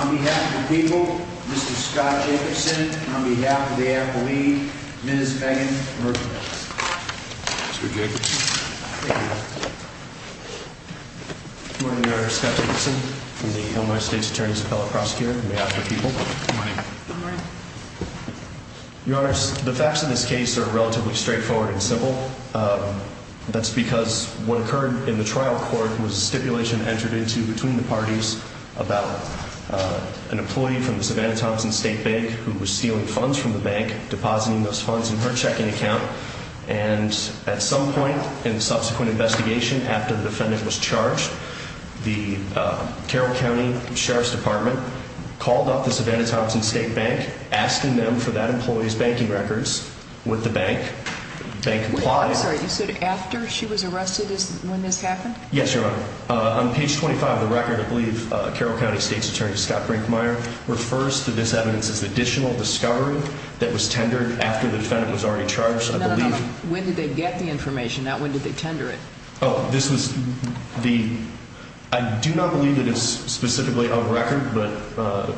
On behalf of the people, Mr. Scott Jacobson, on behalf of the Apple League, Ms. Megan Merkles. Good morning, Your Honor. Scott Jacobson from the Illinois State's Attorney's Appellate Prosecutor on behalf of the people. Good morning. Your Honor, the facts of this case are relatively straightforward and simple. That's because what occurred in the trial court was a stipulation entered into between the parties about an employee from the Savannah Thompson State Bank who was stealing funds from the bank, depositing those funds in her checking account. And at some point in the subsequent investigation, after the defendant was charged, the Carroll County Sheriff's Department called up the Savannah Thompson State Bank, asking them for that employee's banking records with the bank. I'm sorry, you said after she was arrested when this happened? Yes, Your Honor. On page 25 of the record, I believe Carroll County State's Attorney Scott Brinkmeyer refers to this evidence as additional discovery that was tendered after the defendant was already charged, I believe. No, no, no. When did they get the information? Not when did they tender it? Oh, this was the, I do not believe it is specifically a record, but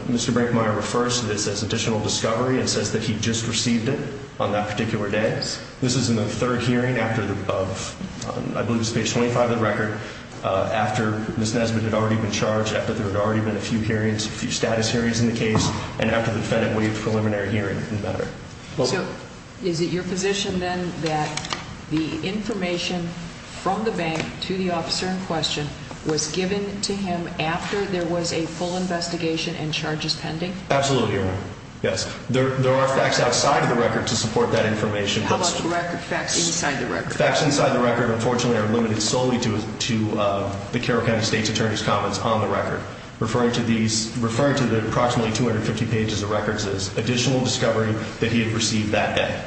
Mr. Brinkmeyer refers to this as additional discovery and says that he just received it on that particular day. This is in the third hearing after the, of, I believe it's page 25 of the record, after Ms. Nesbitt had already been charged, after there had already been a few hearings, a few status hearings in the case, and after the defendant waived preliminary hearing in the matter. So, is it your position then that the information from the bank to the officer in question was given to him after there was a full investigation and charges pending? Absolutely, Your Honor. Yes. There are facts outside of the record to support that information. How about the record, facts inside the record? The facts inside the record, unfortunately, are limited solely to the Carroll County State's attorney's comments on the record, referring to these, referring to the approximately 250 pages of records as additional discovery that he had received that day,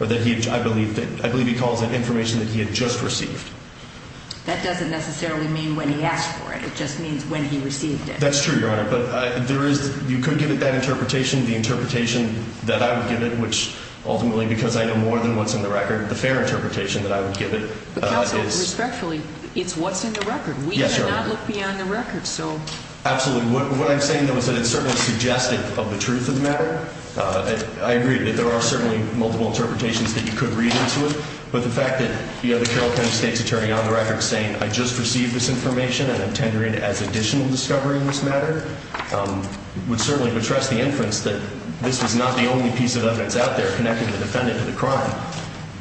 or that he, I believe, I believe he calls it information that he had just received. That doesn't necessarily mean when he asked for it. It just means when he received it. That's true, Your Honor, but there is, you could give it that interpretation, the interpretation that I would give it, which ultimately, because I know more than what's in the record, the fair interpretation that I would give it is... But counsel, respectfully, it's what's in the record. Yes, Your Honor. We cannot look beyond the record, so... Absolutely. What I'm saying, though, is that it's certainly suggestive of the truth of the matter. I agree that there are certainly multiple interpretations that you could read into it, but the fact that, you know, the Carroll County State's attorney on the record is saying, I just received this information and I'm tendering it as additional discovery in this matter, would certainly betrust the inference that this is not the only piece of evidence out there connecting the defendant to the crime.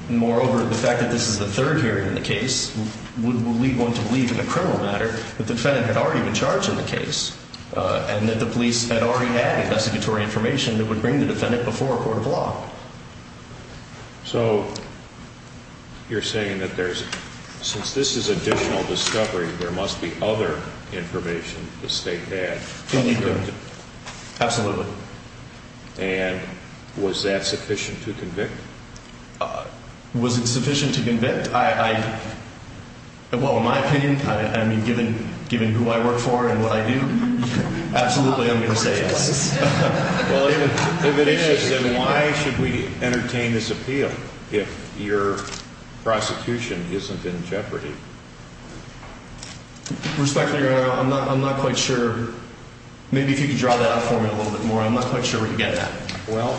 Moreover, the fact that this is the third hearing in the case, would lead one to believe in a criminal matter that the defendant had already been charged in the case and that the police had already had investigatory information that would bring the defendant before a court of law. So, you're saying that there's, since this is additional discovery, there must be other information the state had. Absolutely. And was that sufficient to convict? Was it sufficient to convict? I, well, in my opinion, I mean, given who I work for and what I do, absolutely I'm going to say yes. Well, if it is, then why should we entertain this appeal if your prosecution isn't in jeopardy? Respectfully, Your Honor, I'm not quite sure. Maybe if you could draw that out for me a little bit more, I'm not quite sure where you get that. Well,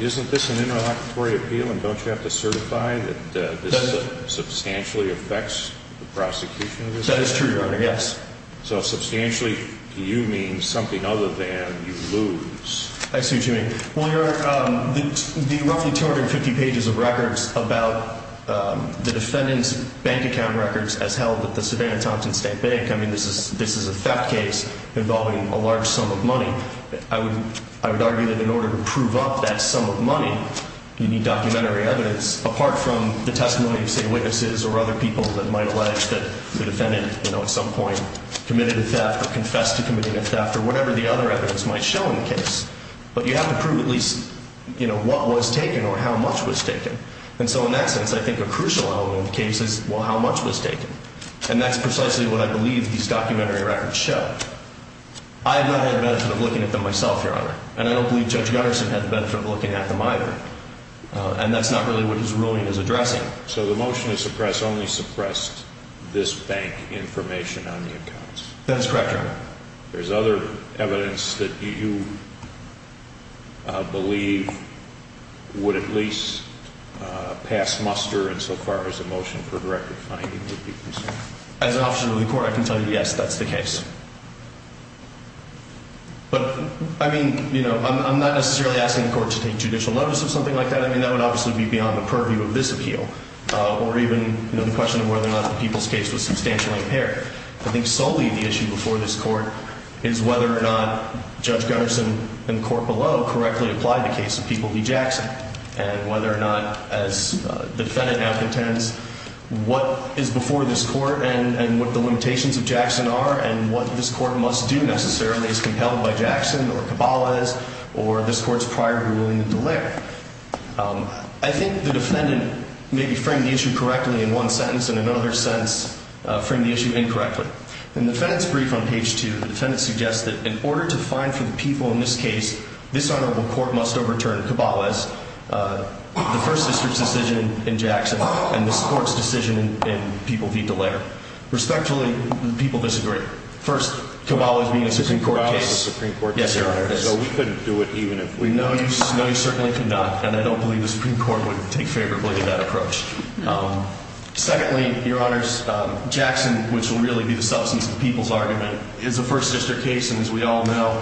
isn't this an interlocutory appeal and don't you have to certify that this substantially affects the prosecution? That is true, Your Honor, yes. So, substantially to you means something other than you lose. I see what you mean. Well, Your Honor, the roughly 250 pages of records about the defendant's bank account records as held at the Savannah Thompson State Bank, I mean, this is a theft case involving a large sum of money. I would argue that in order to prove up that sum of money, you need documentary evidence apart from the testimony of, say, witnesses or other people that might allege that the defendant, you know, at some point committed a theft or confessed to committing a theft or whatever the other evidence might show in the case. But you have to prove at least, you know, what was taken or how much was taken. And so in that sense, I think a crucial element of the case is, well, how much was taken? And that's precisely what I believe these documentary records show. I have not had the benefit of looking at them myself, Your Honor. And I don't believe Judge Gutterson had the benefit of looking at them either. And that's not really what his ruling is addressing. So the motion to suppress only suppressed this bank information on the accounts? That is correct, Your Honor. There's other evidence that you believe would at least pass muster insofar as the motion for a direct defining would be concerned? As an officer of the court, I can tell you, yes, that's the case. But, I mean, you know, I'm not necessarily asking the court to take judicial notice of something like that. I mean, that would obviously be beyond the purview of this appeal or even, you know, the question of whether or not the people's case was substantially impaired. I think solely the issue before this court is whether or not Judge Gutterson and the court below correctly applied the case of People v. Jackson. And whether or not, as the defendant now contends, what is before this court and what the limitations of Jackson are and what this court must do necessarily is compelled by Jackson or Cabales or this court's prior ruling in the layer. I think the defendant maybe framed the issue correctly in one sentence and in another sentence framed the issue incorrectly. In the defendant's brief on page 2, the defendant suggests that in order to find for the people in this case, this honorable court must overturn Cabales, the First District's decision in Jackson, and this court's decision in People v. Dallaire. Respectfully, the people disagree. First, Cabales being a Supreme Court case. Cabales was a Supreme Court case. Yes, Your Honor. So we couldn't do it even if we could. No, you certainly could not. And I don't believe the Supreme Court would take favorably to that approach. Secondly, Your Honors, Jackson, which will really be the substance of the people's argument, is a First District case. And as we all know,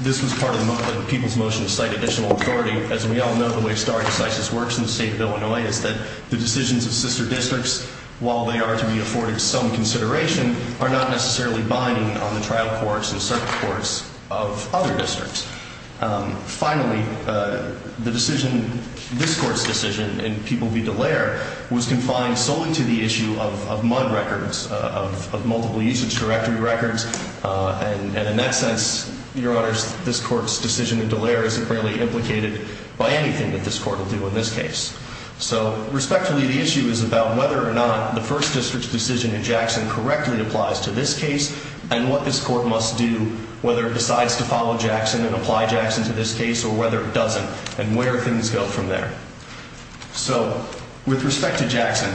this was part of the people's motion to cite additional authority. As we all know, the way stare decisis works in the state of Illinois is that the decisions of sister districts, while they are to be afforded some consideration, are not necessarily binding on the trial courts and circuit courts of other districts. Finally, the decision, this court's decision in People v. Dallaire, was confined solely to the issue of mud records, of multiple usage directory records. And in that sense, Your Honors, this court's decision in Dallaire isn't really implicated by anything that this court will do in this case. So respectfully, the issue is about whether or not the First District's decision in Jackson correctly applies to this case and what this court must do, whether it decides to follow Jackson and apply Jackson to this case or whether it doesn't, and where things go from there. So with respect to Jackson,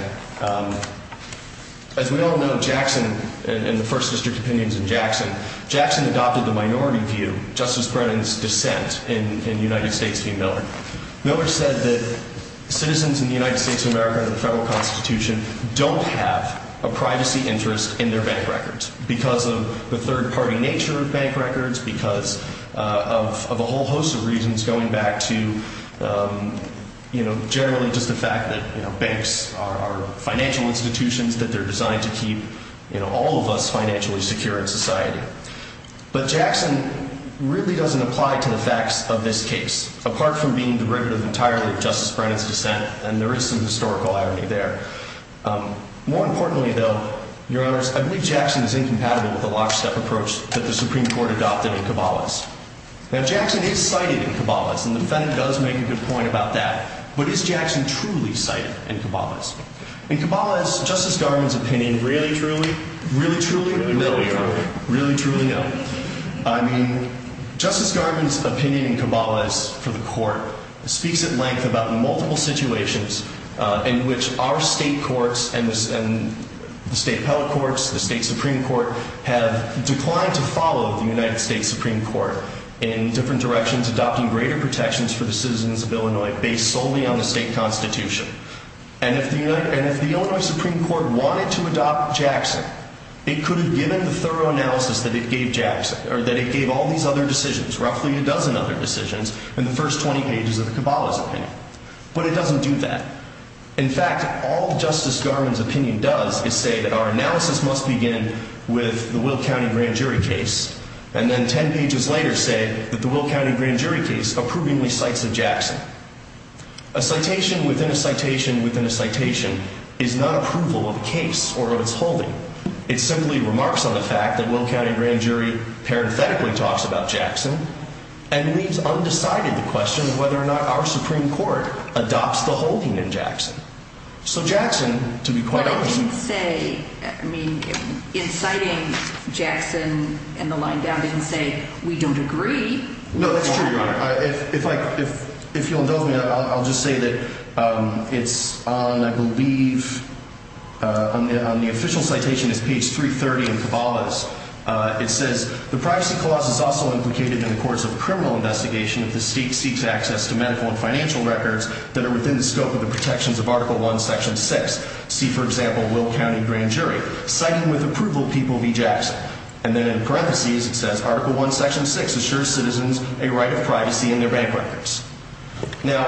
as we all know, Jackson and the First District opinions in Jackson, Jackson adopted the minority view, Justice Brennan's dissent in United States v. Miller. Miller said that citizens in the United States of America under the federal Constitution don't have a privacy interest in their bank records because of the third-party nature of bank records, because of a whole host of reasons going back to, you know, generally just the fact that, you know, banks are financial institutions that they're designed to keep, you know, all of us financially secure in society. But Jackson really doesn't apply to the facts of this case, apart from being derivative entirely of Justice Brennan's dissent, and there is some historical irony there. More importantly, though, Your Honors, I believe Jackson is incompatible with the lockstep approach that the Supreme Court adopted in Cabalas. Now, Jackson is cited in Cabalas, and the defendant does make a good point about that. But is Jackson truly cited in Cabalas? In Cabalas, Justice Garvin's opinion really truly, really truly? No, Your Honor. Really truly no? I mean, Justice Garvin's opinion in Cabalas for the court speaks at length about multiple situations in which our state courts and the state appellate courts, the state Supreme Court, have declined to follow the United States Supreme Court in different directions, adopting greater protections for the citizens of Illinois based solely on the state constitution. And if the Illinois Supreme Court wanted to adopt Jackson, it could have given the thorough analysis that it gave Jackson, or that it gave all these other decisions, roughly a dozen other decisions, in the first 20 pages of the Cabalas opinion. But it doesn't do that. In fact, all Justice Garvin's opinion does is say that our analysis must begin with the Will County Grand Jury case, and then 10 pages later say that the Will County Grand Jury case approvingly cites Jackson. A citation within a citation within a citation is not approval of a case or of its holding. It simply remarks on the fact that Will County Grand Jury parenthetically talks about Jackson and leaves undecided the question of whether or not our Supreme Court adopts the holding in Jackson. So Jackson, to be quite honest. But it didn't say, I mean, inciting Jackson and the line down didn't say we don't agree. No, that's true, Your Honor. If you'll indulge me, I'll just say that it's on, I believe, on the official citation is page 330 in Cabalas. It says, the privacy clause is also implicated in the courts of criminal investigation if the state seeks access to medical and financial records that are within the scope of the protections of Article I, Section 6. See, for example, Will County Grand Jury. Citing with approval people be Jackson. And then in parentheses it says, Article I, Section 6 assures citizens a right of privacy in their bank records. Now,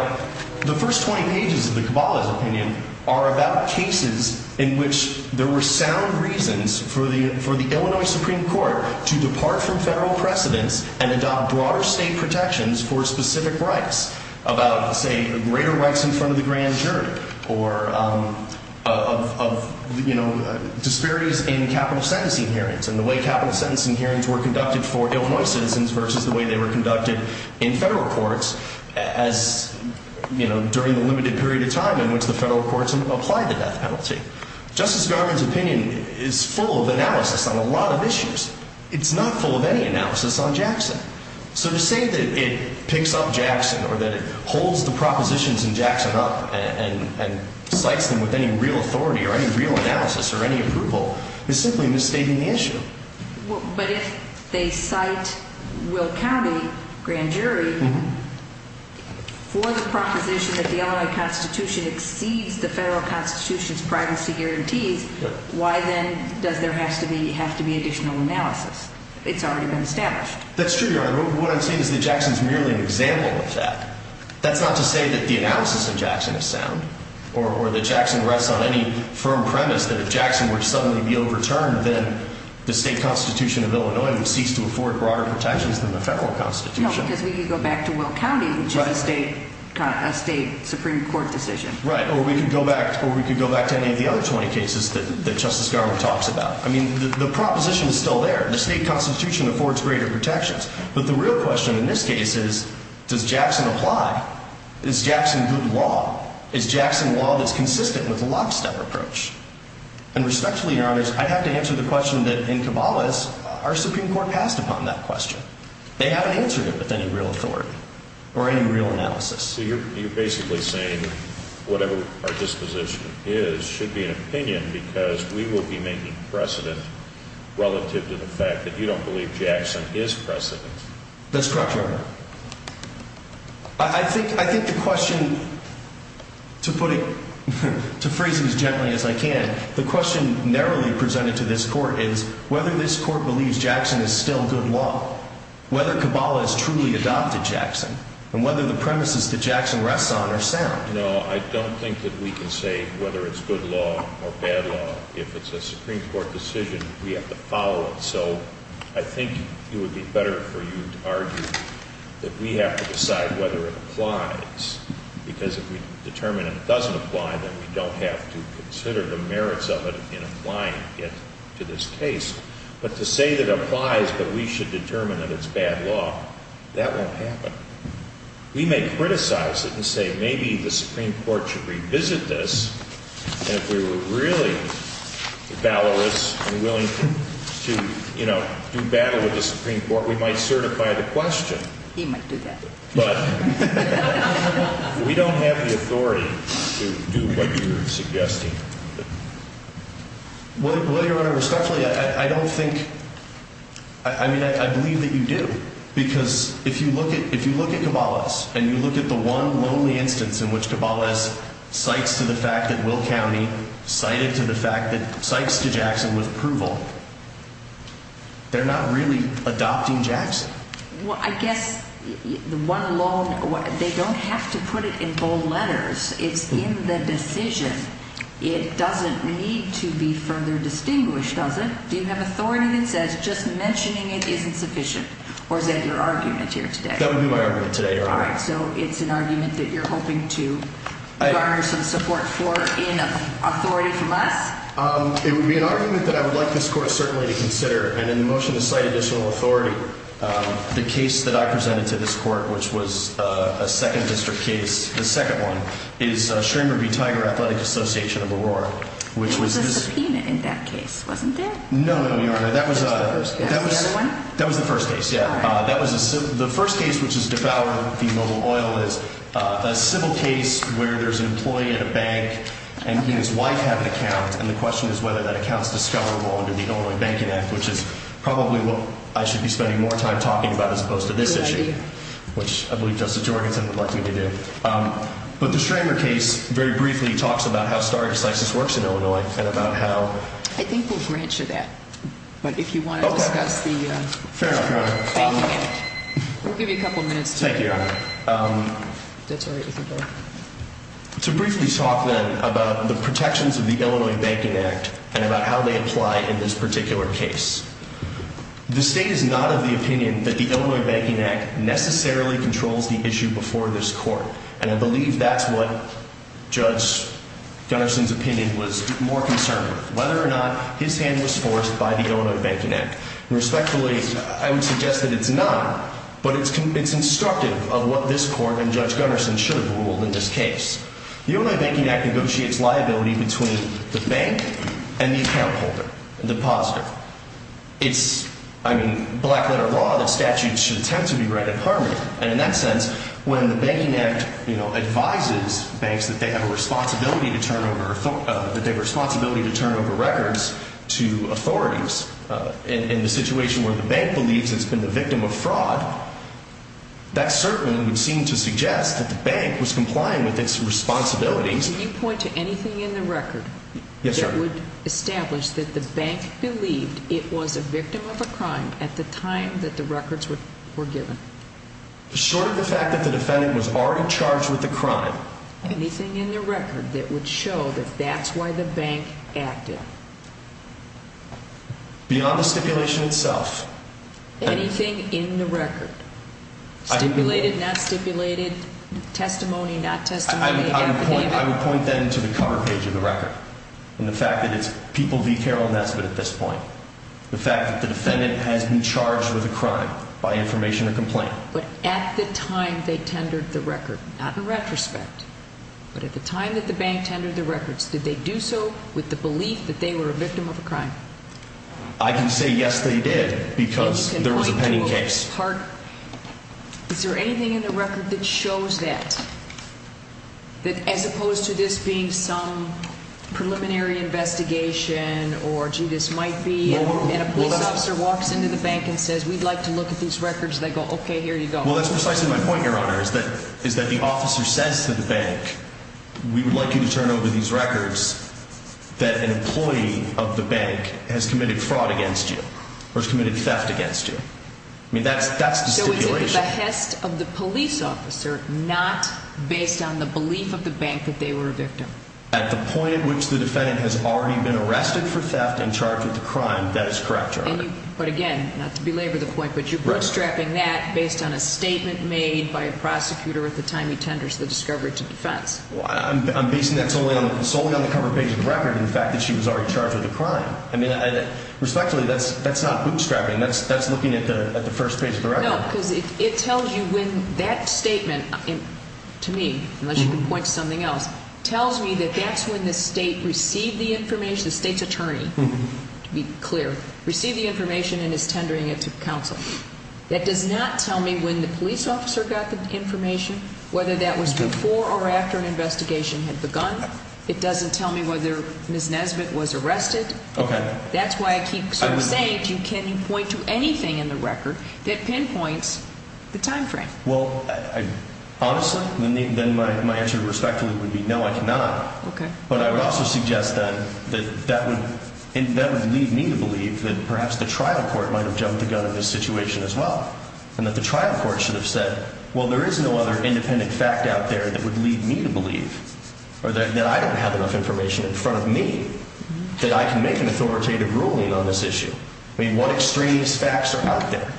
the first 20 pages of the Cabalas opinion are about cases in which there were sound reasons for the Illinois Supreme Court to depart from federal precedence and adopt broader state protections for specific rights about, say, greater rights in front of the Grand Jury or of, you know, disparities in capital sentencing hearings and the way capital sentencing hearings were conducted for Illinois citizens versus the way they were conducted in federal courts as, you know, during the limited period of time in which the federal courts applied the death penalty. Justice Garland's opinion is full of analysis on a lot of issues. It's not full of any analysis on Jackson. So to say that it picks up Jackson or that it holds the propositions in Jackson up and cites them with any real authority or any real analysis or any approval is simply misstating the issue. But if they cite Will County, Grand Jury, for the proposition that the Illinois Constitution exceeds the federal constitution's privacy guarantees, why then does there have to be additional analysis? It's already been established. That's true, Your Honor. What I'm saying is that Jackson's merely an example of that. That's not to say that the analysis of Jackson is sound or that Jackson rests on any firm premise that if Jackson were to suddenly be overturned, then the state constitution of Illinois would cease to afford broader protections than the federal constitution. No, because we could go back to Will County, which is a state supreme court decision. Right, or we could go back to any of the other 20 cases that Justice Garland talks about. I mean, the proposition is still there. The state constitution affords greater protections. But the real question in this case is, does Jackson apply? Is Jackson good law? Is Jackson law that's consistent with the lockstep approach? And respectfully, Your Honor, I have to answer the question that in Cabalas, our supreme court passed upon that question. They haven't answered it with any real authority or any real analysis. So you're basically saying whatever our disposition is should be an opinion because we will be making precedent relative to the fact that you don't believe Jackson is precedent. That's correct, Your Honor. I think the question, to put it, to phrase it as gently as I can, the question narrowly presented to this court is whether this court believes Jackson is still good law, whether Cabalas truly adopted Jackson, and whether the premises that Jackson rests on are sound. No, I don't think that we can say whether it's good law or bad law. If it's a supreme court decision, we have to follow it. So I think it would be better for you to argue that we have to decide whether it applies because if we determine it doesn't apply, then we don't have to consider the merits of it in applying it to this case. But to say that it applies but we should determine that it's bad law, that won't happen. We may criticize it and say maybe the Supreme Court should revisit this. And if we were really valorous and willing to, you know, do battle with the Supreme Court, we might certify the question. He might do that. But we don't have the authority to do what you're suggesting. Well, Your Honor, respectfully, I don't think, I mean, I believe that you do. Because if you look at Cabalas and you look at the one lonely instance in which Cabalas cites to the fact that Will County cited to the fact that cites to Jackson with approval, they're not really adopting Jackson. Well, I guess the one alone, they don't have to put it in bold letters. It's in the decision. It doesn't need to be further distinguished, does it? Do you have authority that says just mentioning it isn't sufficient? Or is that your argument here today? That would be my argument today, Your Honor. All right. So it's an argument that you're hoping to garner some support for in authority from us? It would be an argument that I would like this court certainly to consider. And in the motion to cite additional authority, the case that I presented to this court, which was a second district case, the second one, is Schramer v. Tiger Athletic Association of Aurora. It was a subpoena in that case, wasn't it? No, Your Honor. That was the first case. The other one? That was the first case, yeah. All right. The first case which has devoured the mobile oil is a civil case where there's an employee at a bank and he and his wife have an account. And the question is whether that account is discoverable under the Illinois Banking Act, which is probably what I should be spending more time talking about as opposed to this issue, which I believe Justice Jorgenson would like me to do. But the Schramer case very briefly talks about how star excises works in Illinois and about how- I think we'll grant you that. But if you want to discuss the- Okay. Fair enough, Your Honor. We'll give you a couple minutes to- Thank you, Your Honor. That's all right. To briefly talk then about the protections of the Illinois Banking Act and about how they apply in this particular case. The state is not of the opinion that the Illinois Banking Act necessarily controls the issue before this court. And I believe that's what Judge Gunnarson's opinion was more concerned with, whether or not his hand was forced by the Illinois Banking Act. And respectfully, I would suggest that it's not, but it's instructive of what this court and Judge Gunnarson should have ruled in this case. The Illinois Banking Act negotiates liability between the bank and the account holder, the depositor. It's, I mean, black letter law that statutes should attempt to be read in harmony. And in that sense, when the Banking Act, you know, advises banks that they have a responsibility to turn over- that they have a responsibility to turn over records to authorities in the situation where the bank believes it's been the victim of fraud, that certainly would seem to suggest that the bank was complying with its responsibilities. Can you point to anything in the record that would establish that the bank believed it was a victim of a crime at the time that the records were given? Short of the fact that the defendant was already charged with the crime. Anything in the record that would show that that's why the bank acted? Beyond the stipulation itself. Anything in the record? Stipulated, not stipulated? Testimony, not testimony? I would point then to the cover page of the record and the fact that it's people v. Carol Nesbitt at this point. The fact that the defendant has been charged with a crime by information or complaint. But at the time they tendered the record, not in retrospect, but at the time that the bank tendered the records, did they do so with the belief that they were a victim of a crime? I can say yes they did because there was a pending case. Is there anything in the record that shows that? That as opposed to this being some preliminary investigation or gee this might be and a police officer walks into the bank and says we'd like to look at these records and they go okay here you go. Well that's precisely my point your honor is that the officer says to the bank we would like you to turn over these records that an employee of the bank has committed fraud against you or has committed theft against you. I mean that's the stipulation. So is it the behest of the police officer not based on the belief of the bank that they were a victim? At the point at which the defendant has already been arrested for theft and charged with a crime that is correct your honor. But again not to belabor the point but you're bootstrapping that based on a statement made by a prosecutor at the time he tenders the discovery to defense. I'm basing that solely on the cover page of the record and the fact that she was already charged with a crime. Respectfully that's not bootstrapping that's looking at the first page of the record. No because it tells you when that statement to me unless you can point to something else tells me that that's when the state received the information the state's attorney to be clear received the information and is tendering it to counsel. That does not tell me when the police officer got the information whether that was before or after an investigation had begun. It doesn't tell me whether Ms. Nesbitt was arrested. That's why I keep saying you can point to anything in the record that pinpoints the time frame. Well honestly then my answer respectfully would be no I cannot. But I would also suggest that that would lead me to believe that perhaps the trial court might have jumped the gun in this situation as well. And that the trial court should have said well there is no other independent fact out there that would lead me to believe. Or that I don't have enough information in front of me that I can make an authoritative ruling on this issue. I mean what extraneous facts are out there.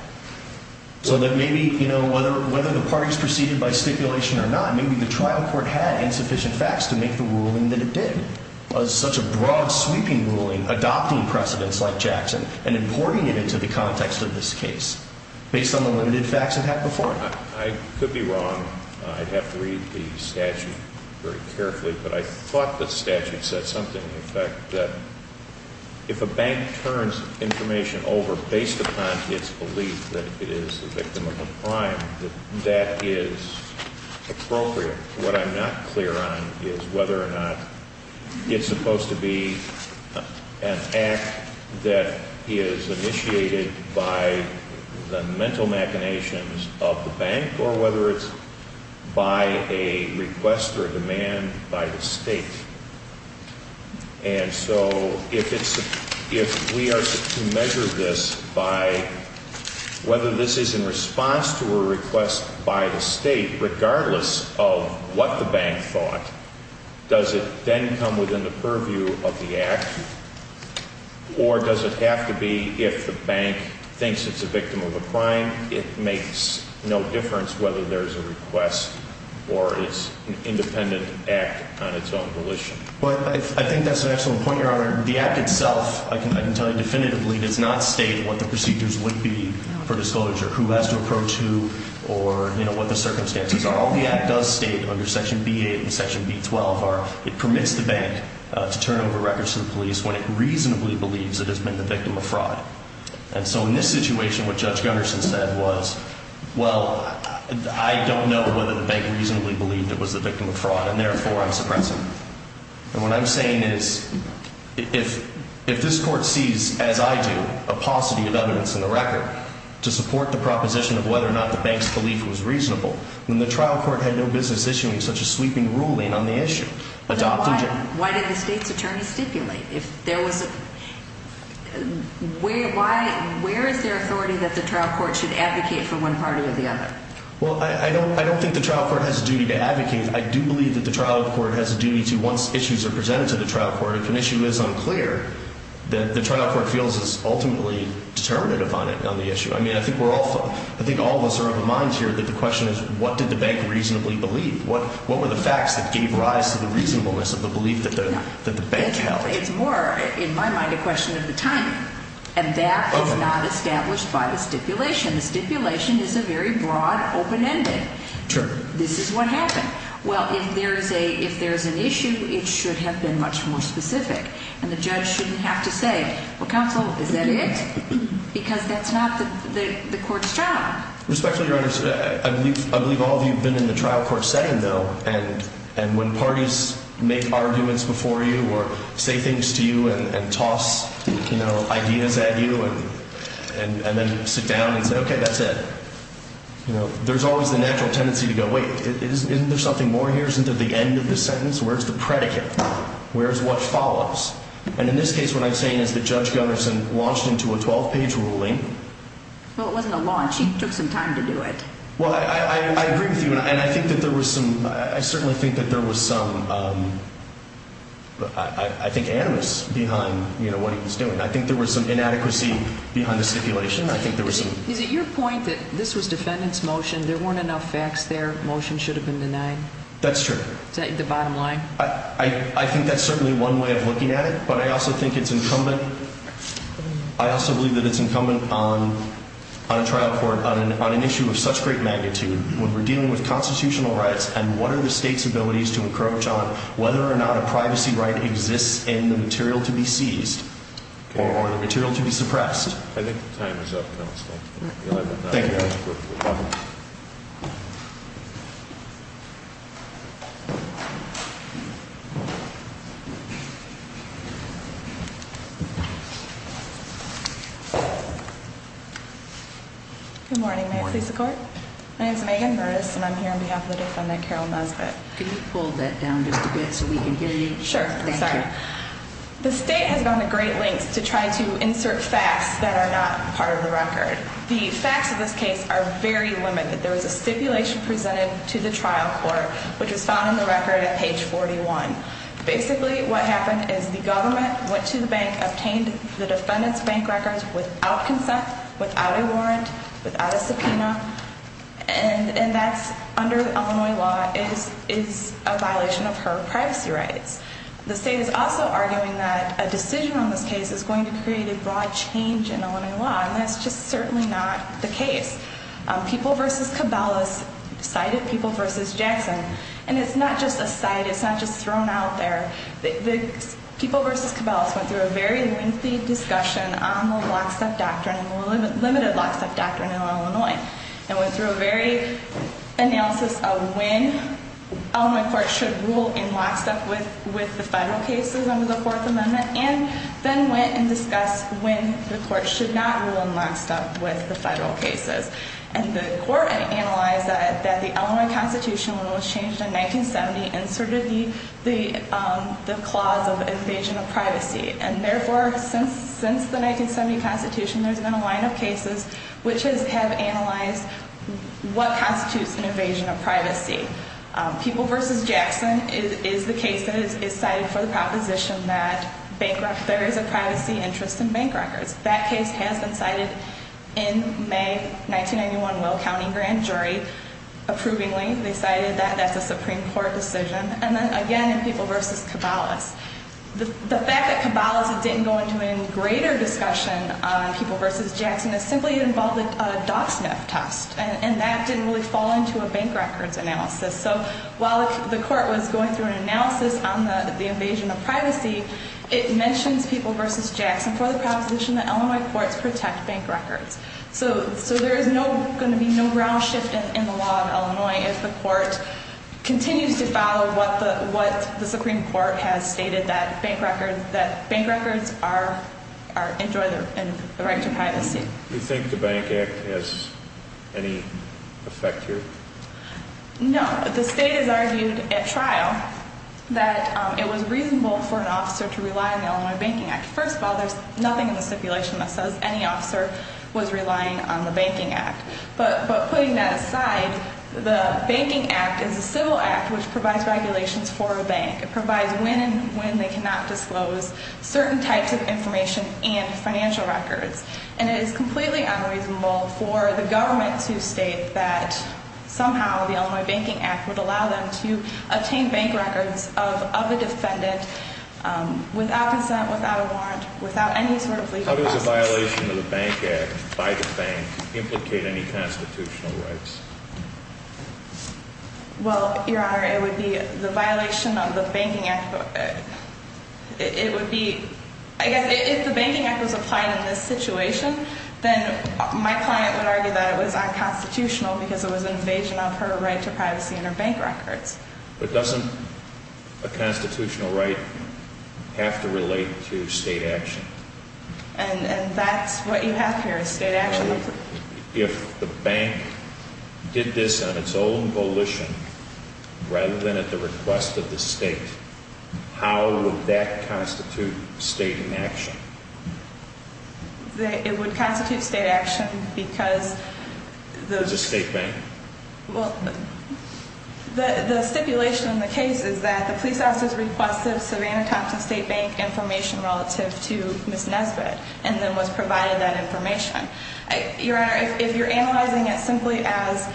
So that maybe you know whether whether the parties proceeded by stipulation or not maybe the trial court had insufficient facts to make the ruling that it did. Was such a broad sweeping ruling adopting precedents like Jackson and importing it into the context of this case. Based on the limited facts it had before. I could be wrong. I'd have to read the statute very carefully. But I thought the statute said something in fact that if a bank turns information over based upon its belief that it is a victim of a crime. That is appropriate. What I'm not clear on is whether or not it's supposed to be an act that is initiated by the mental machinations of the bank. Or whether it's by a request or demand by the state. And so if it's if we are to measure this by whether this is in response to a request by the state regardless of what the bank thought. Does it then come within the purview of the act. Or does it have to be if the bank thinks it's a victim of a crime. It makes no difference whether there's a request or it's an independent act on its own volition. But I think that's an excellent point your honor. The act itself I can tell you definitively does not state what the procedures would be for disclosure. Who has to approach who or you know what the circumstances are. All the act does state under section B8 and section B12 are it permits the bank to turn over records to the police when it reasonably believes it has been the victim of fraud. And so in this situation what Judge Gunderson said was well I don't know whether the bank reasonably believed it was the victim of fraud and therefore I'm suppressing it. And what I'm saying is if this court sees as I do a paucity of evidence in the record to support the proposition of whether or not the bank's belief was reasonable. Then the trial court had no business issuing such a sweeping ruling on the issue. Then why did the state's attorney stipulate? Where is there authority that the trial court should advocate for one party or the other? Well I don't think the trial court has a duty to advocate. I do believe that the trial court has a duty to once issues are presented to the trial court. If an issue is unclear then the trial court feels is ultimately determinative on it on the issue. I mean I think all of us are of a mind here that the question is what did the bank reasonably believe? What were the facts that gave rise to the reasonableness of the belief that the bank held? It's more in my mind a question of the timing. And that is not established by the stipulation. The stipulation is a very broad open ending. Sure. This is what happened. Well if there is an issue it should have been much more specific. And the judge shouldn't have to say well counsel is that it? Because that's not the court's job. Respectfully Your Honor I believe all of you have been in the trial court setting though. And when parties make arguments before you or say things to you and toss ideas at you and then sit down and say okay that's it. There is always the natural tendency to go wait isn't there something more here? Isn't there the end of the sentence? Where is the predicate? Where is what follows? And in this case what I'm saying is that Judge Gunnarsson launched into a 12 page ruling. Well it wasn't a launch he took some time to do it. Well I agree with you and I think that there was some I certainly think that there was some I think animus behind what he was doing. I think there was some inadequacy behind the stipulation. Is it your point that this was defendant's motion there weren't enough facts there? Motion should have been denied? That's true. Is that the bottom line? I think that's certainly one way of looking at it. But I also think it's incumbent I also believe that it's incumbent on a trial court on an issue of such great magnitude when we're dealing with constitutional rights and what are the state's abilities to encroach on whether or not a privacy right exists in the material to be seized or the material to be suppressed. I think the time is up. Thank you. Good morning. May it please the court. My name is Megan Burris and I'm here on behalf of the defendant Carol Nesbitt. Can you pull that down just a bit so we can hear you? Sure. Thank you. The state has gone to great lengths to try to insert facts that are not part of the record. The facts of this case are very limited. There was a stipulation presented to the trial court which was found on the record at page 41. Basically what happened is the government went to the bank, obtained the defendant's bank records without consent, without a warrant, without a subpoena, and that's under Illinois law is a violation of her privacy rights. The state is also arguing that a decision on this case is going to create a broad change in Illinois law, and that's just certainly not the case. People v. Cabelas cited People v. Jackson. And it's not just a cite. It's not just thrown out there. People v. Cabelas went through a very lengthy discussion on the lockstep doctrine, the limited lockstep doctrine in Illinois, and went through a very analysis of when Illinois courts should rule in lockstep with the federal cases under the Fourth Amendment and then went and discussed when the courts should not rule in lockstep with the federal cases. And the court analyzed that the Illinois Constitution, when it was changed in 1970, inserted the clause of invasion of privacy. And therefore, since the 1970 Constitution, there's been a line of cases which have analyzed what constitutes an invasion of privacy. People v. Jackson is the case that is cited for the proposition that there is a privacy interest in bank records. That case has been cited in May 1991 Will County Grand Jury, approvingly. They cited that. That's a Supreme Court decision. And then, again, in People v. Cabelas. The fact that Cabelas didn't go into any greater discussion on People v. Jackson is simply it involved a dog sniff test, and that didn't really fall into a bank records analysis. So while the court was going through an analysis on the invasion of privacy, it mentions People v. Jackson for the proposition that Illinois courts protect bank records. So there is going to be no ground shift in the law of Illinois if the court continues to follow what the Supreme Court has stated, that bank records enjoy the right to privacy. Do you think the Bank Act has any effect here? No. The state has argued at trial that it was reasonable for an officer to rely on the Illinois Banking Act. First of all, there's nothing in the stipulation that says any officer was relying on the Banking Act. But putting that aside, the Banking Act is a civil act which provides regulations for a bank. It provides when and when they cannot disclose certain types of information and financial records. And it is completely unreasonable for the government to state that somehow the Illinois Banking Act would allow them to obtain bank records of a defendant without consent, without a warrant, without any sort of legal process. How does a violation of the Bank Act by the bank implicate any constitutional rights? Well, Your Honor, it would be the violation of the Banking Act. It would be, I guess, if the Banking Act was applied in this situation, then my client would argue that it was unconstitutional because it was an invasion of her right to privacy and her bank records. But doesn't a constitutional right have to relate to state action? And that's what you have here is state action. So if the bank did this on its own volition rather than at the request of the state, how would that constitute state action? It would constitute state action because... It's a state bank. Well, the stipulation in the case is that the police officer's request of Savannah Thompson State Bank information relative to Ms. Nesbitt and then was provided that information. Your Honor, if you're analyzing it simply as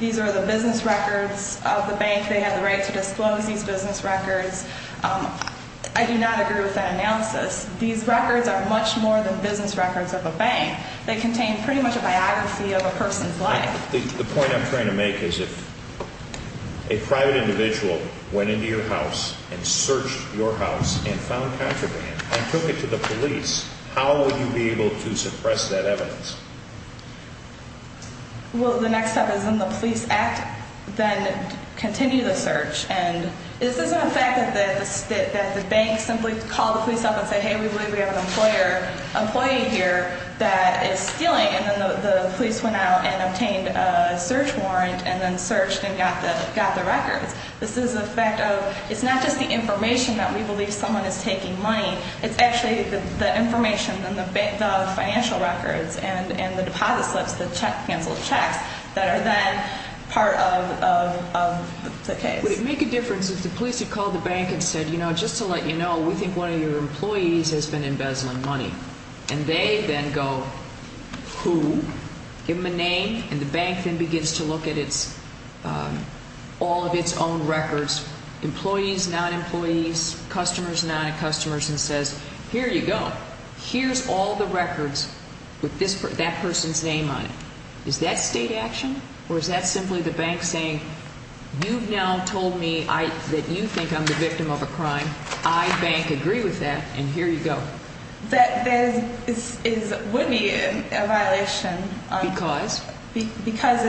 these are the business records of the bank, they have the right to disclose these business records, I do not agree with that analysis. These records are much more than business records of a bank. They contain pretty much a biography of a person's life. The point I'm trying to make is if a private individual went into your house and searched your house and found contraband and took it to the police, how would you be able to suppress that evidence? Well, the next step is when the police act, then continue the search. And this isn't a fact that the bank simply called the police up and said, hey, we believe we have an employee here that is stealing. And then the police went out and obtained a search warrant and then searched and got the records. This is a fact of it's not just the information that we believe someone is taking money. It's actually the information and the financial records and the deposit slips, the canceled checks, that are then part of the case. Would it make a difference if the police had called the bank and said, you know, just to let you know, we think one of your employees has been embezzling money? And they then go, who? Give them a name. And the bank then begins to look at all of its own records, employees, non-employees, customers, non-customers, and says, here you go. Here's all the records with that person's name on it. Is that state action or is that simply the bank saying, you've now told me that you think I'm the victim of a crime. I, bank, agree with that. And here you go. That would be a violation. Because? Because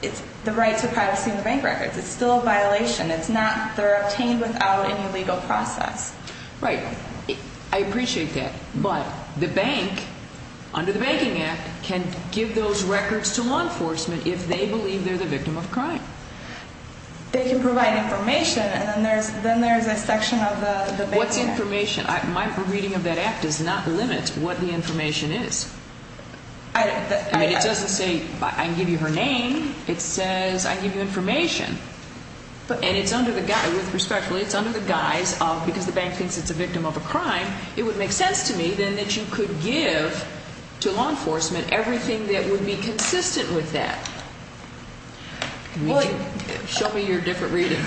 it's the right to privacy in the bank records. It's still a violation. It's not, they're obtained without any legal process. Right. I appreciate that. But the bank, under the Banking Act, can give those records to law enforcement if they believe they're the victim of crime. They can provide information and then there's a section of the Banking Act. What's information? My reading of that Act does not limit what the information is. I mean, it doesn't say, I can give you her name. It says I can give you information. And it's under the guise, respectfully, it's under the guise of because the bank thinks it's a victim of a crime, it would make sense to me then that you could give to law enforcement everything that would be consistent with that. Show me your different reading.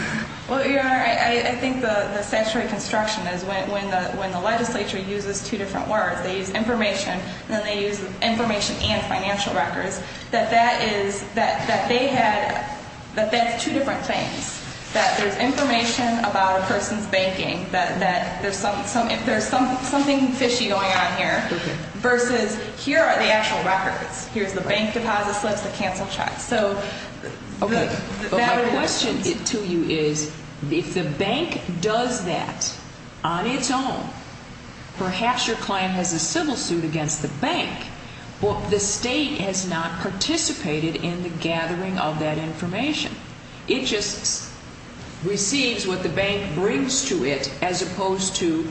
Well, Your Honor, I think the statutory construction is when the legislature uses two different words, they use information and then they use information and financial records, that that is, that they had, that that's two different things, that there's information about a person's banking, that there's something fishy going on here, versus here are the actual records. Here's the bank deposit slips, the cancel checks. Okay. My question to you is if the bank does that on its own, perhaps your client has a civil suit against the bank, but the State has not participated in the gathering of that information. It just receives what the bank brings to it as opposed to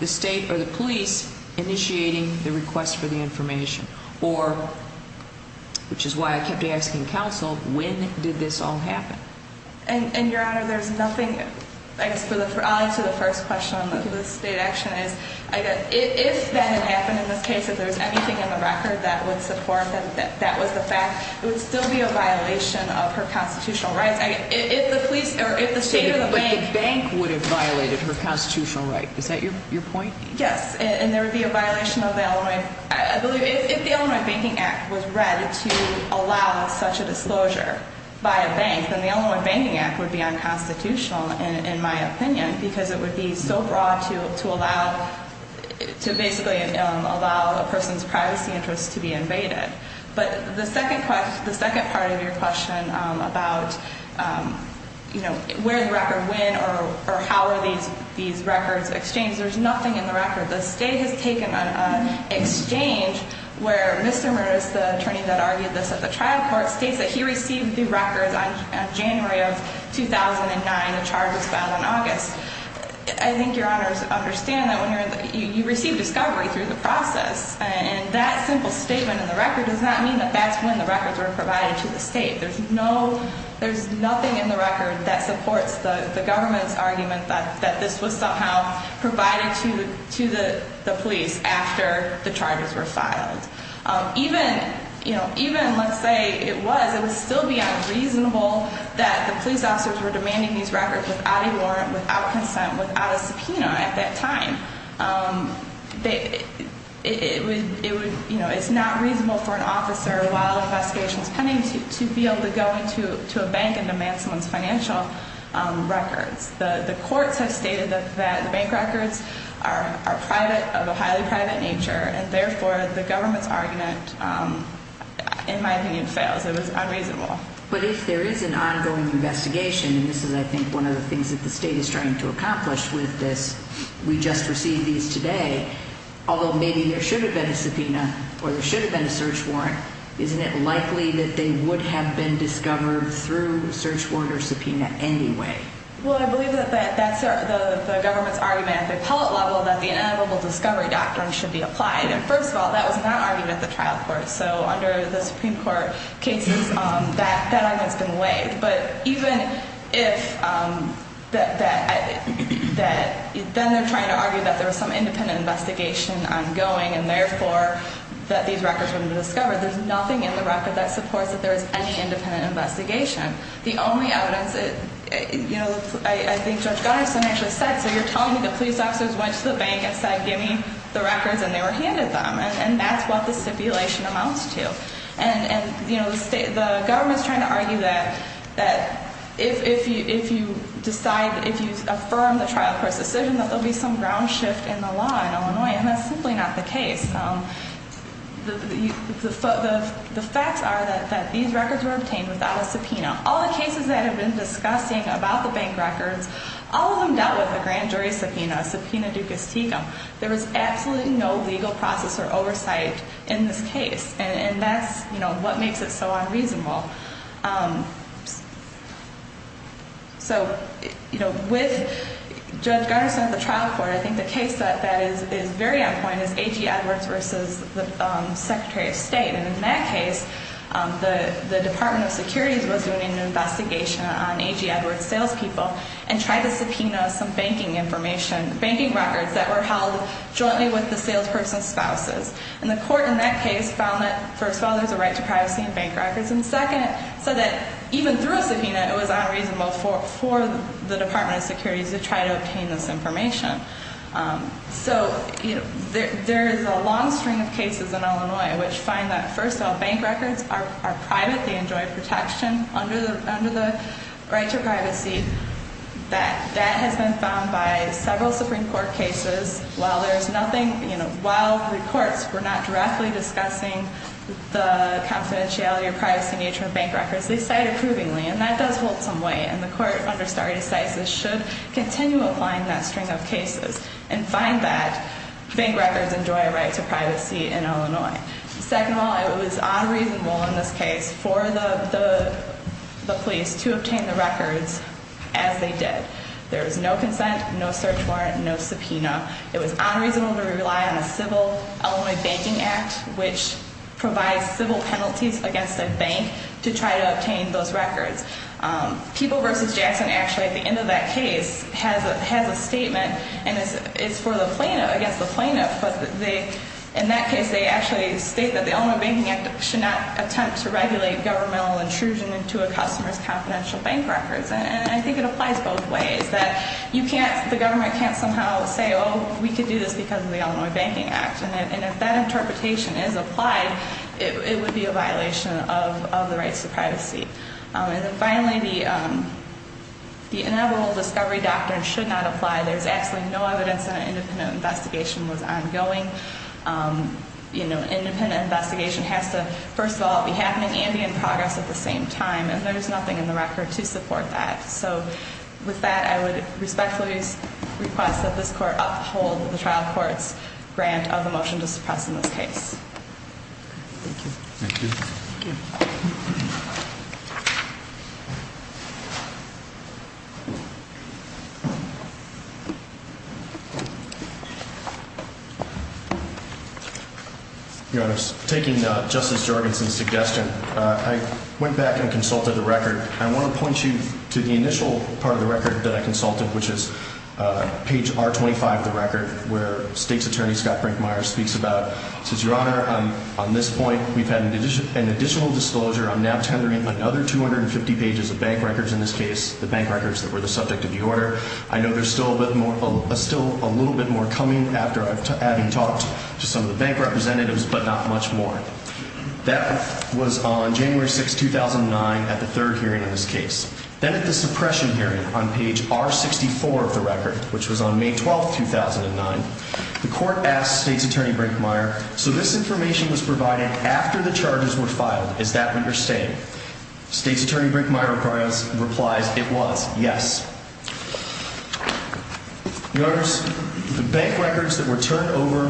the State or the police initiating the request for the information, or, which is why I kept asking counsel, when did this all happen? And, Your Honor, there's nothing, I'll answer the first question on the State action is, if that had happened in this case, if there was anything in the record that would support that that was the fact, it would still be a violation of her constitutional rights. If the police or if the State or the bank. But the bank would have violated her constitutional rights. Is that your point? Yes, and there would be a violation of that. If the Illinois Banking Act was read to allow such a disclosure by a bank, then the Illinois Banking Act would be unconstitutional, in my opinion, because it would be so broad to basically allow a person's privacy interests to be invaded. But the second part of your question about where the record went or how are these records exchanged, there's nothing in the record. The State has taken an exchange where Mr. Merz, the attorney that argued this at the trial court, states that he received the records on January of 2009. The charge was filed in August. I think Your Honors understand that when you receive discovery through the process, and that simple statement in the record does not mean that that's when the records were provided to the State. There's nothing in the record that supports the government's argument that this was somehow provided to the police after the charges were filed. Even, let's say it was, it would still be unreasonable that the police officers were demanding these records without a warrant, without consent, without a subpoena at that time. It's not reasonable for an officer, while an investigation is pending, to be able to go into a bank and demand someone's financial records. The courts have stated that the bank records are private, of a highly private nature, and therefore the government's argument, in my opinion, fails. It was unreasonable. But if there is an ongoing investigation, and this is, I think, one of the things that the State is trying to accomplish with this, we just received these today, although maybe there should have been a subpoena or there should have been a search warrant, isn't it likely that they would have been discovered through search warrant or subpoena anyway? Well, I believe that that's the government's argument at the appellate level that the ineligible discovery doctrine should be applied. And first of all, that was not argued at the trial court. So under the Supreme Court cases, that argument has been waived. But even if that, then they're trying to argue that there was some independent investigation ongoing and therefore that these records wouldn't have been discovered, there's nothing in the record that supports that there was any independent investigation. The only evidence, you know, I think Judge Gunnarson actually said, so you're telling me the police officers went to the bank and said, give me the records and they were handed them, and that's what the stipulation amounts to. And, you know, the government's trying to argue that if you decide, if you affirm the trial court's decision that there will be some ground shift in the law in Illinois, and that's simply not the case. The facts are that these records were obtained without a subpoena. All the cases that have been discussing about the bank records, all of them dealt with a grand jury subpoena, a subpoena ducis tecum. There was absolutely no legal process or oversight in this case. And that's, you know, what makes it so unreasonable. So, you know, with Judge Gunnarson at the trial court, I think the case that is very on point is A.G. Edwards versus the Secretary of State. And in that case, the Department of Security was doing an investigation on A.G. Edwards' salespeople and tried to subpoena some banking information, banking records, that were held jointly with the salesperson's spouses. And the court in that case found that, first of all, there's a right to privacy in bank records, and second, said that even through a subpoena, it was unreasonable for the Department of Security to try to obtain this information. So, you know, there is a long string of cases in Illinois which find that, first of all, bank records are private. They enjoy protection under the right to privacy. That has been found by several Supreme Court cases. While there's nothing, you know, while the courts were not directly discussing the confidentiality or privacy nature of bank records, they cited provingly, and that does hold some weight. And the court under stare decisis should continue applying that string of cases and find that bank records enjoy a right to privacy in Illinois. Second of all, it was unreasonable in this case for the police to obtain the records as they did. There was no consent, no search warrant, no subpoena. It was unreasonable to rely on a civil Illinois Banking Act, which provides civil penalties against a bank to try to obtain those records. People v. Jackson actually, at the end of that case, has a statement, and it's for the plaintiff, against the plaintiff. But in that case, they actually state that the Illinois Banking Act should not attempt to regulate governmental intrusion into a customer's confidential bank records. And I think it applies both ways, that you can't, the government can't somehow say, oh, we can do this because of the Illinois Banking Act. And if that interpretation is applied, it would be a violation of the rights to privacy. And then finally, the inevitable discovery doctrine should not apply. There's actually no evidence that an independent investigation was ongoing. Independent investigation has to, first of all, be happening and be in progress at the same time. And there's nothing in the record to support that. So with that, I would respectfully request that this court uphold the trial court's grant of the motion to suppress in this case. Thank you. Thank you. Thank you. Your Honor, taking Justice Jorgensen's suggestion, I went back and consulted the record. I want to point you to the initial part of the record that I consulted, which is page R25 of the record, where state's attorney, Scott Brinkmeyer, speaks about. He says, Your Honor, on this point, we've had an additional disclosure. I'm now tethering another 250 pages of bank records in this case, the bank records that were the subject of the order. I know there's still a little bit more coming after having talked to some of the bank representatives, but not much more. That was on January 6, 2009, at the third hearing of this case. Then at the suppression hearing on page R64 of the record, which was on May 12, 2009, the court asked state's attorney Brinkmeyer, so this information was provided after the charges were filed. Is that what you're saying? State's attorney Brinkmeyer replies, it was, yes. Your Honors, the bank records that were turned over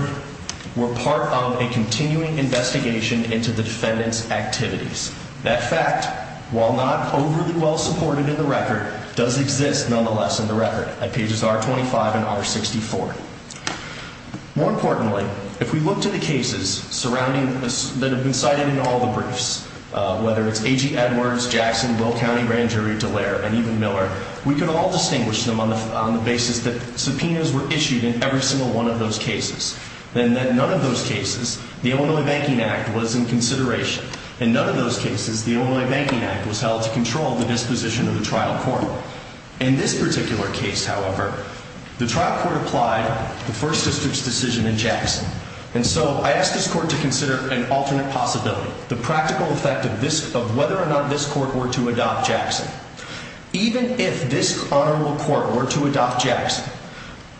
were part of a continuing investigation into the defendant's activities. That fact, while not overly well supported in the record, does exist nonetheless in the record at pages R25 and R64. More importantly, if we look to the cases surrounding, that have been cited in all the briefs, whether it's A.G. Edwards, Jackson, Will County, Ranjeri, Dallaire, and even Miller, we can all distinguish them on the basis that subpoenas were issued in every single one of those cases, and that in none of those cases, the Illinois Banking Act was in consideration. In none of those cases, the Illinois Banking Act was held to control the disposition of the trial court. In this particular case, however, the trial court applied the First District's decision in Jackson, and so I ask this court to consider an alternate possibility, the practical effect of whether or not this court were to adopt Jackson. Even if this honorable court were to adopt Jackson,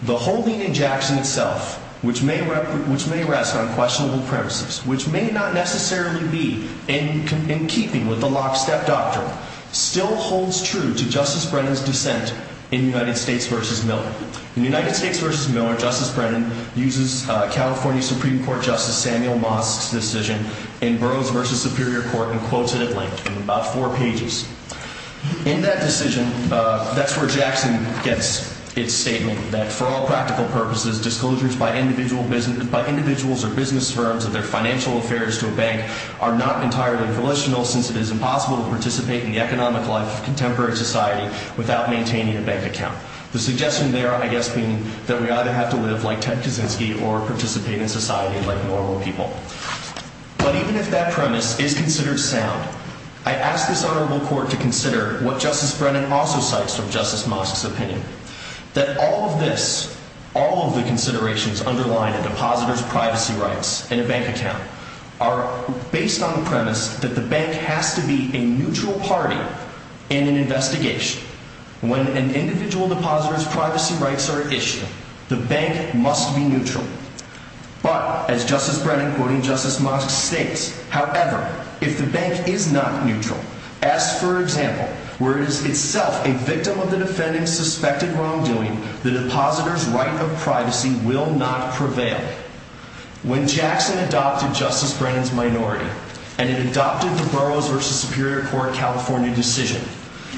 the holding in Jackson itself, which may rest on questionable premises, which may not necessarily be in keeping with the lockstep doctrine, still holds true to Justice Brennan's dissent in United States v. Miller. In United States v. Miller, Justice Brennan uses California Supreme Court Justice Samuel Mosk's decision in Burroughs v. Superior Court and quotes it at length in about four pages. In that decision, that's where Jackson gets its statement that, for all practical purposes, disclosures by individuals or business firms of their financial affairs to a bank are not entirely volitional since it is impossible to participate in the economic life of contemporary society without maintaining a bank account. The suggestion there, I guess, being that we either have to live like Ted Kaczynski or participate in society like normal people. But even if that premise is considered sound, I ask this honorable court to consider what Justice Brennan also cites from Justice Mosk's opinion, that all of this, all of the considerations underlying a depositor's privacy rights in a bank account, are based on the premise that the bank has to be a neutral party in an investigation. When an individual depositor's privacy rights are at issue, the bank must be neutral. But, as Justice Brennan, quoting Justice Mosk, states, however, if the bank is not neutral, as, for example, where it is itself a victim of the defendant's suspected wrongdoing, the depositor's right of privacy will not prevail. When Jackson adopted Justice Brennan's minority, and it adopted the Burroughs v. Superior Court California decision,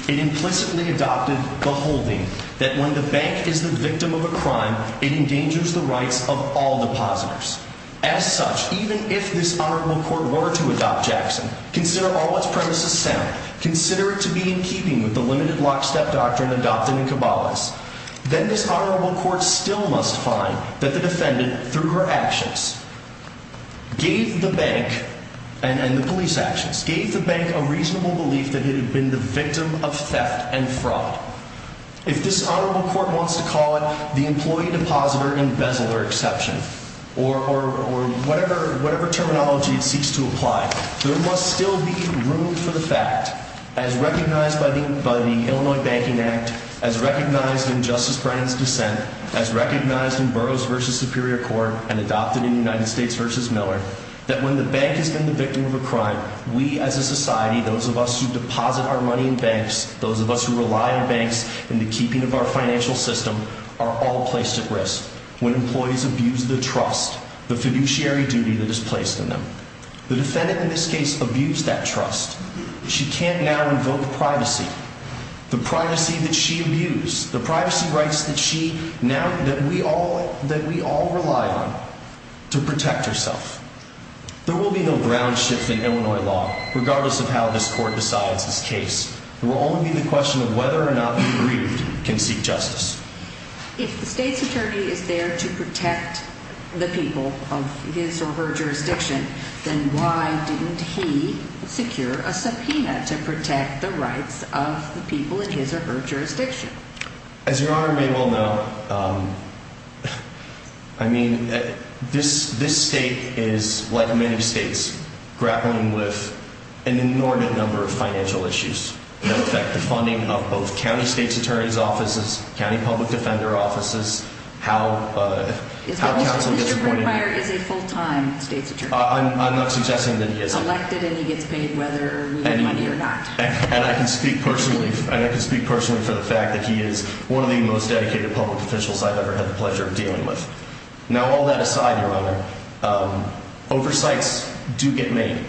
it implicitly adopted the holding that when the bank is the victim of a crime, it endangers the rights of all depositors. As such, even if this honorable court were to adopt Jackson, consider all of its premises sound, consider it to be in keeping with the limited lockstep doctrine adopted in Cabales, then this honorable court still must find that the defendant, through her actions, gave the bank, and the police actions, gave the bank a reasonable belief that it had been the victim of theft and fraud. If this honorable court wants to call it the employee depositor embezzler exception, or whatever terminology it seeks to apply, there must still be room for the fact, as recognized by the Illinois Banking Act, as recognized in Justice Brennan's dissent, as recognized in Burroughs v. Superior Court, and adopted in United States v. Miller, that when the bank has been the victim of a crime, we as a society, those of us who deposit our money in banks, those of us who rely on banks in the keeping of our financial system, are all placed at risk when employees abuse the trust, the fiduciary duty that is placed in them. The defendant in this case abused that trust. She can't now invoke privacy, the privacy that she abused, the privacy rights that we all rely on, to protect herself. There will be no ground shift in Illinois law, regardless of how this court decides this case. It will only be the question of whether or not the aggrieved can seek justice. If the state's attorney is there to protect the people of his or her jurisdiction, then why didn't he secure a subpoena to protect the rights of the people in his or her jurisdiction? As Your Honor may well know, I mean, this state is, like many states, grappling with an inordinate number of financial issues that affect the funding of both county state's attorney's offices, county public defender offices, how counsel gets appointed. As well as if Mr. Brinkmeyer is a full-time state's attorney. I'm not suggesting that he isn't. Elected and he gets paid whether we get money or not. And I can speak personally for the fact that he is one of the most dedicated public officials I've ever had the pleasure of dealing with. Now, all that aside, Your Honor, oversights do get made.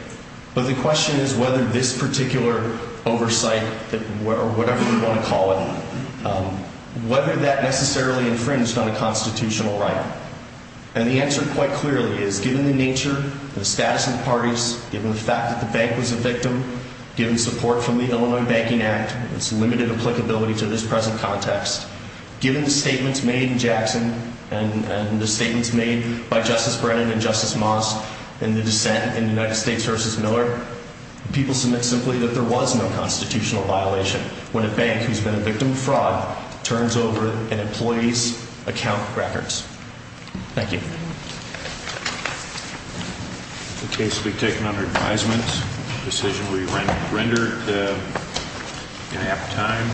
But the question is whether this particular oversight, or whatever you want to call it, whether that necessarily infringed on a constitutional right. And the answer quite clearly is, given the nature, the status of the parties, given the fact that the bank was a victim, given support from the Illinois Banking Act, its limited applicability to this present context, given the statements made in Jackson and the statements made by Justice Brennan and Justice Moss and the dissent in the United States v. Miller, people submit simply that there was no constitutional violation when a bank who's been a victim of fraud turns over an employee's account records. Thank you.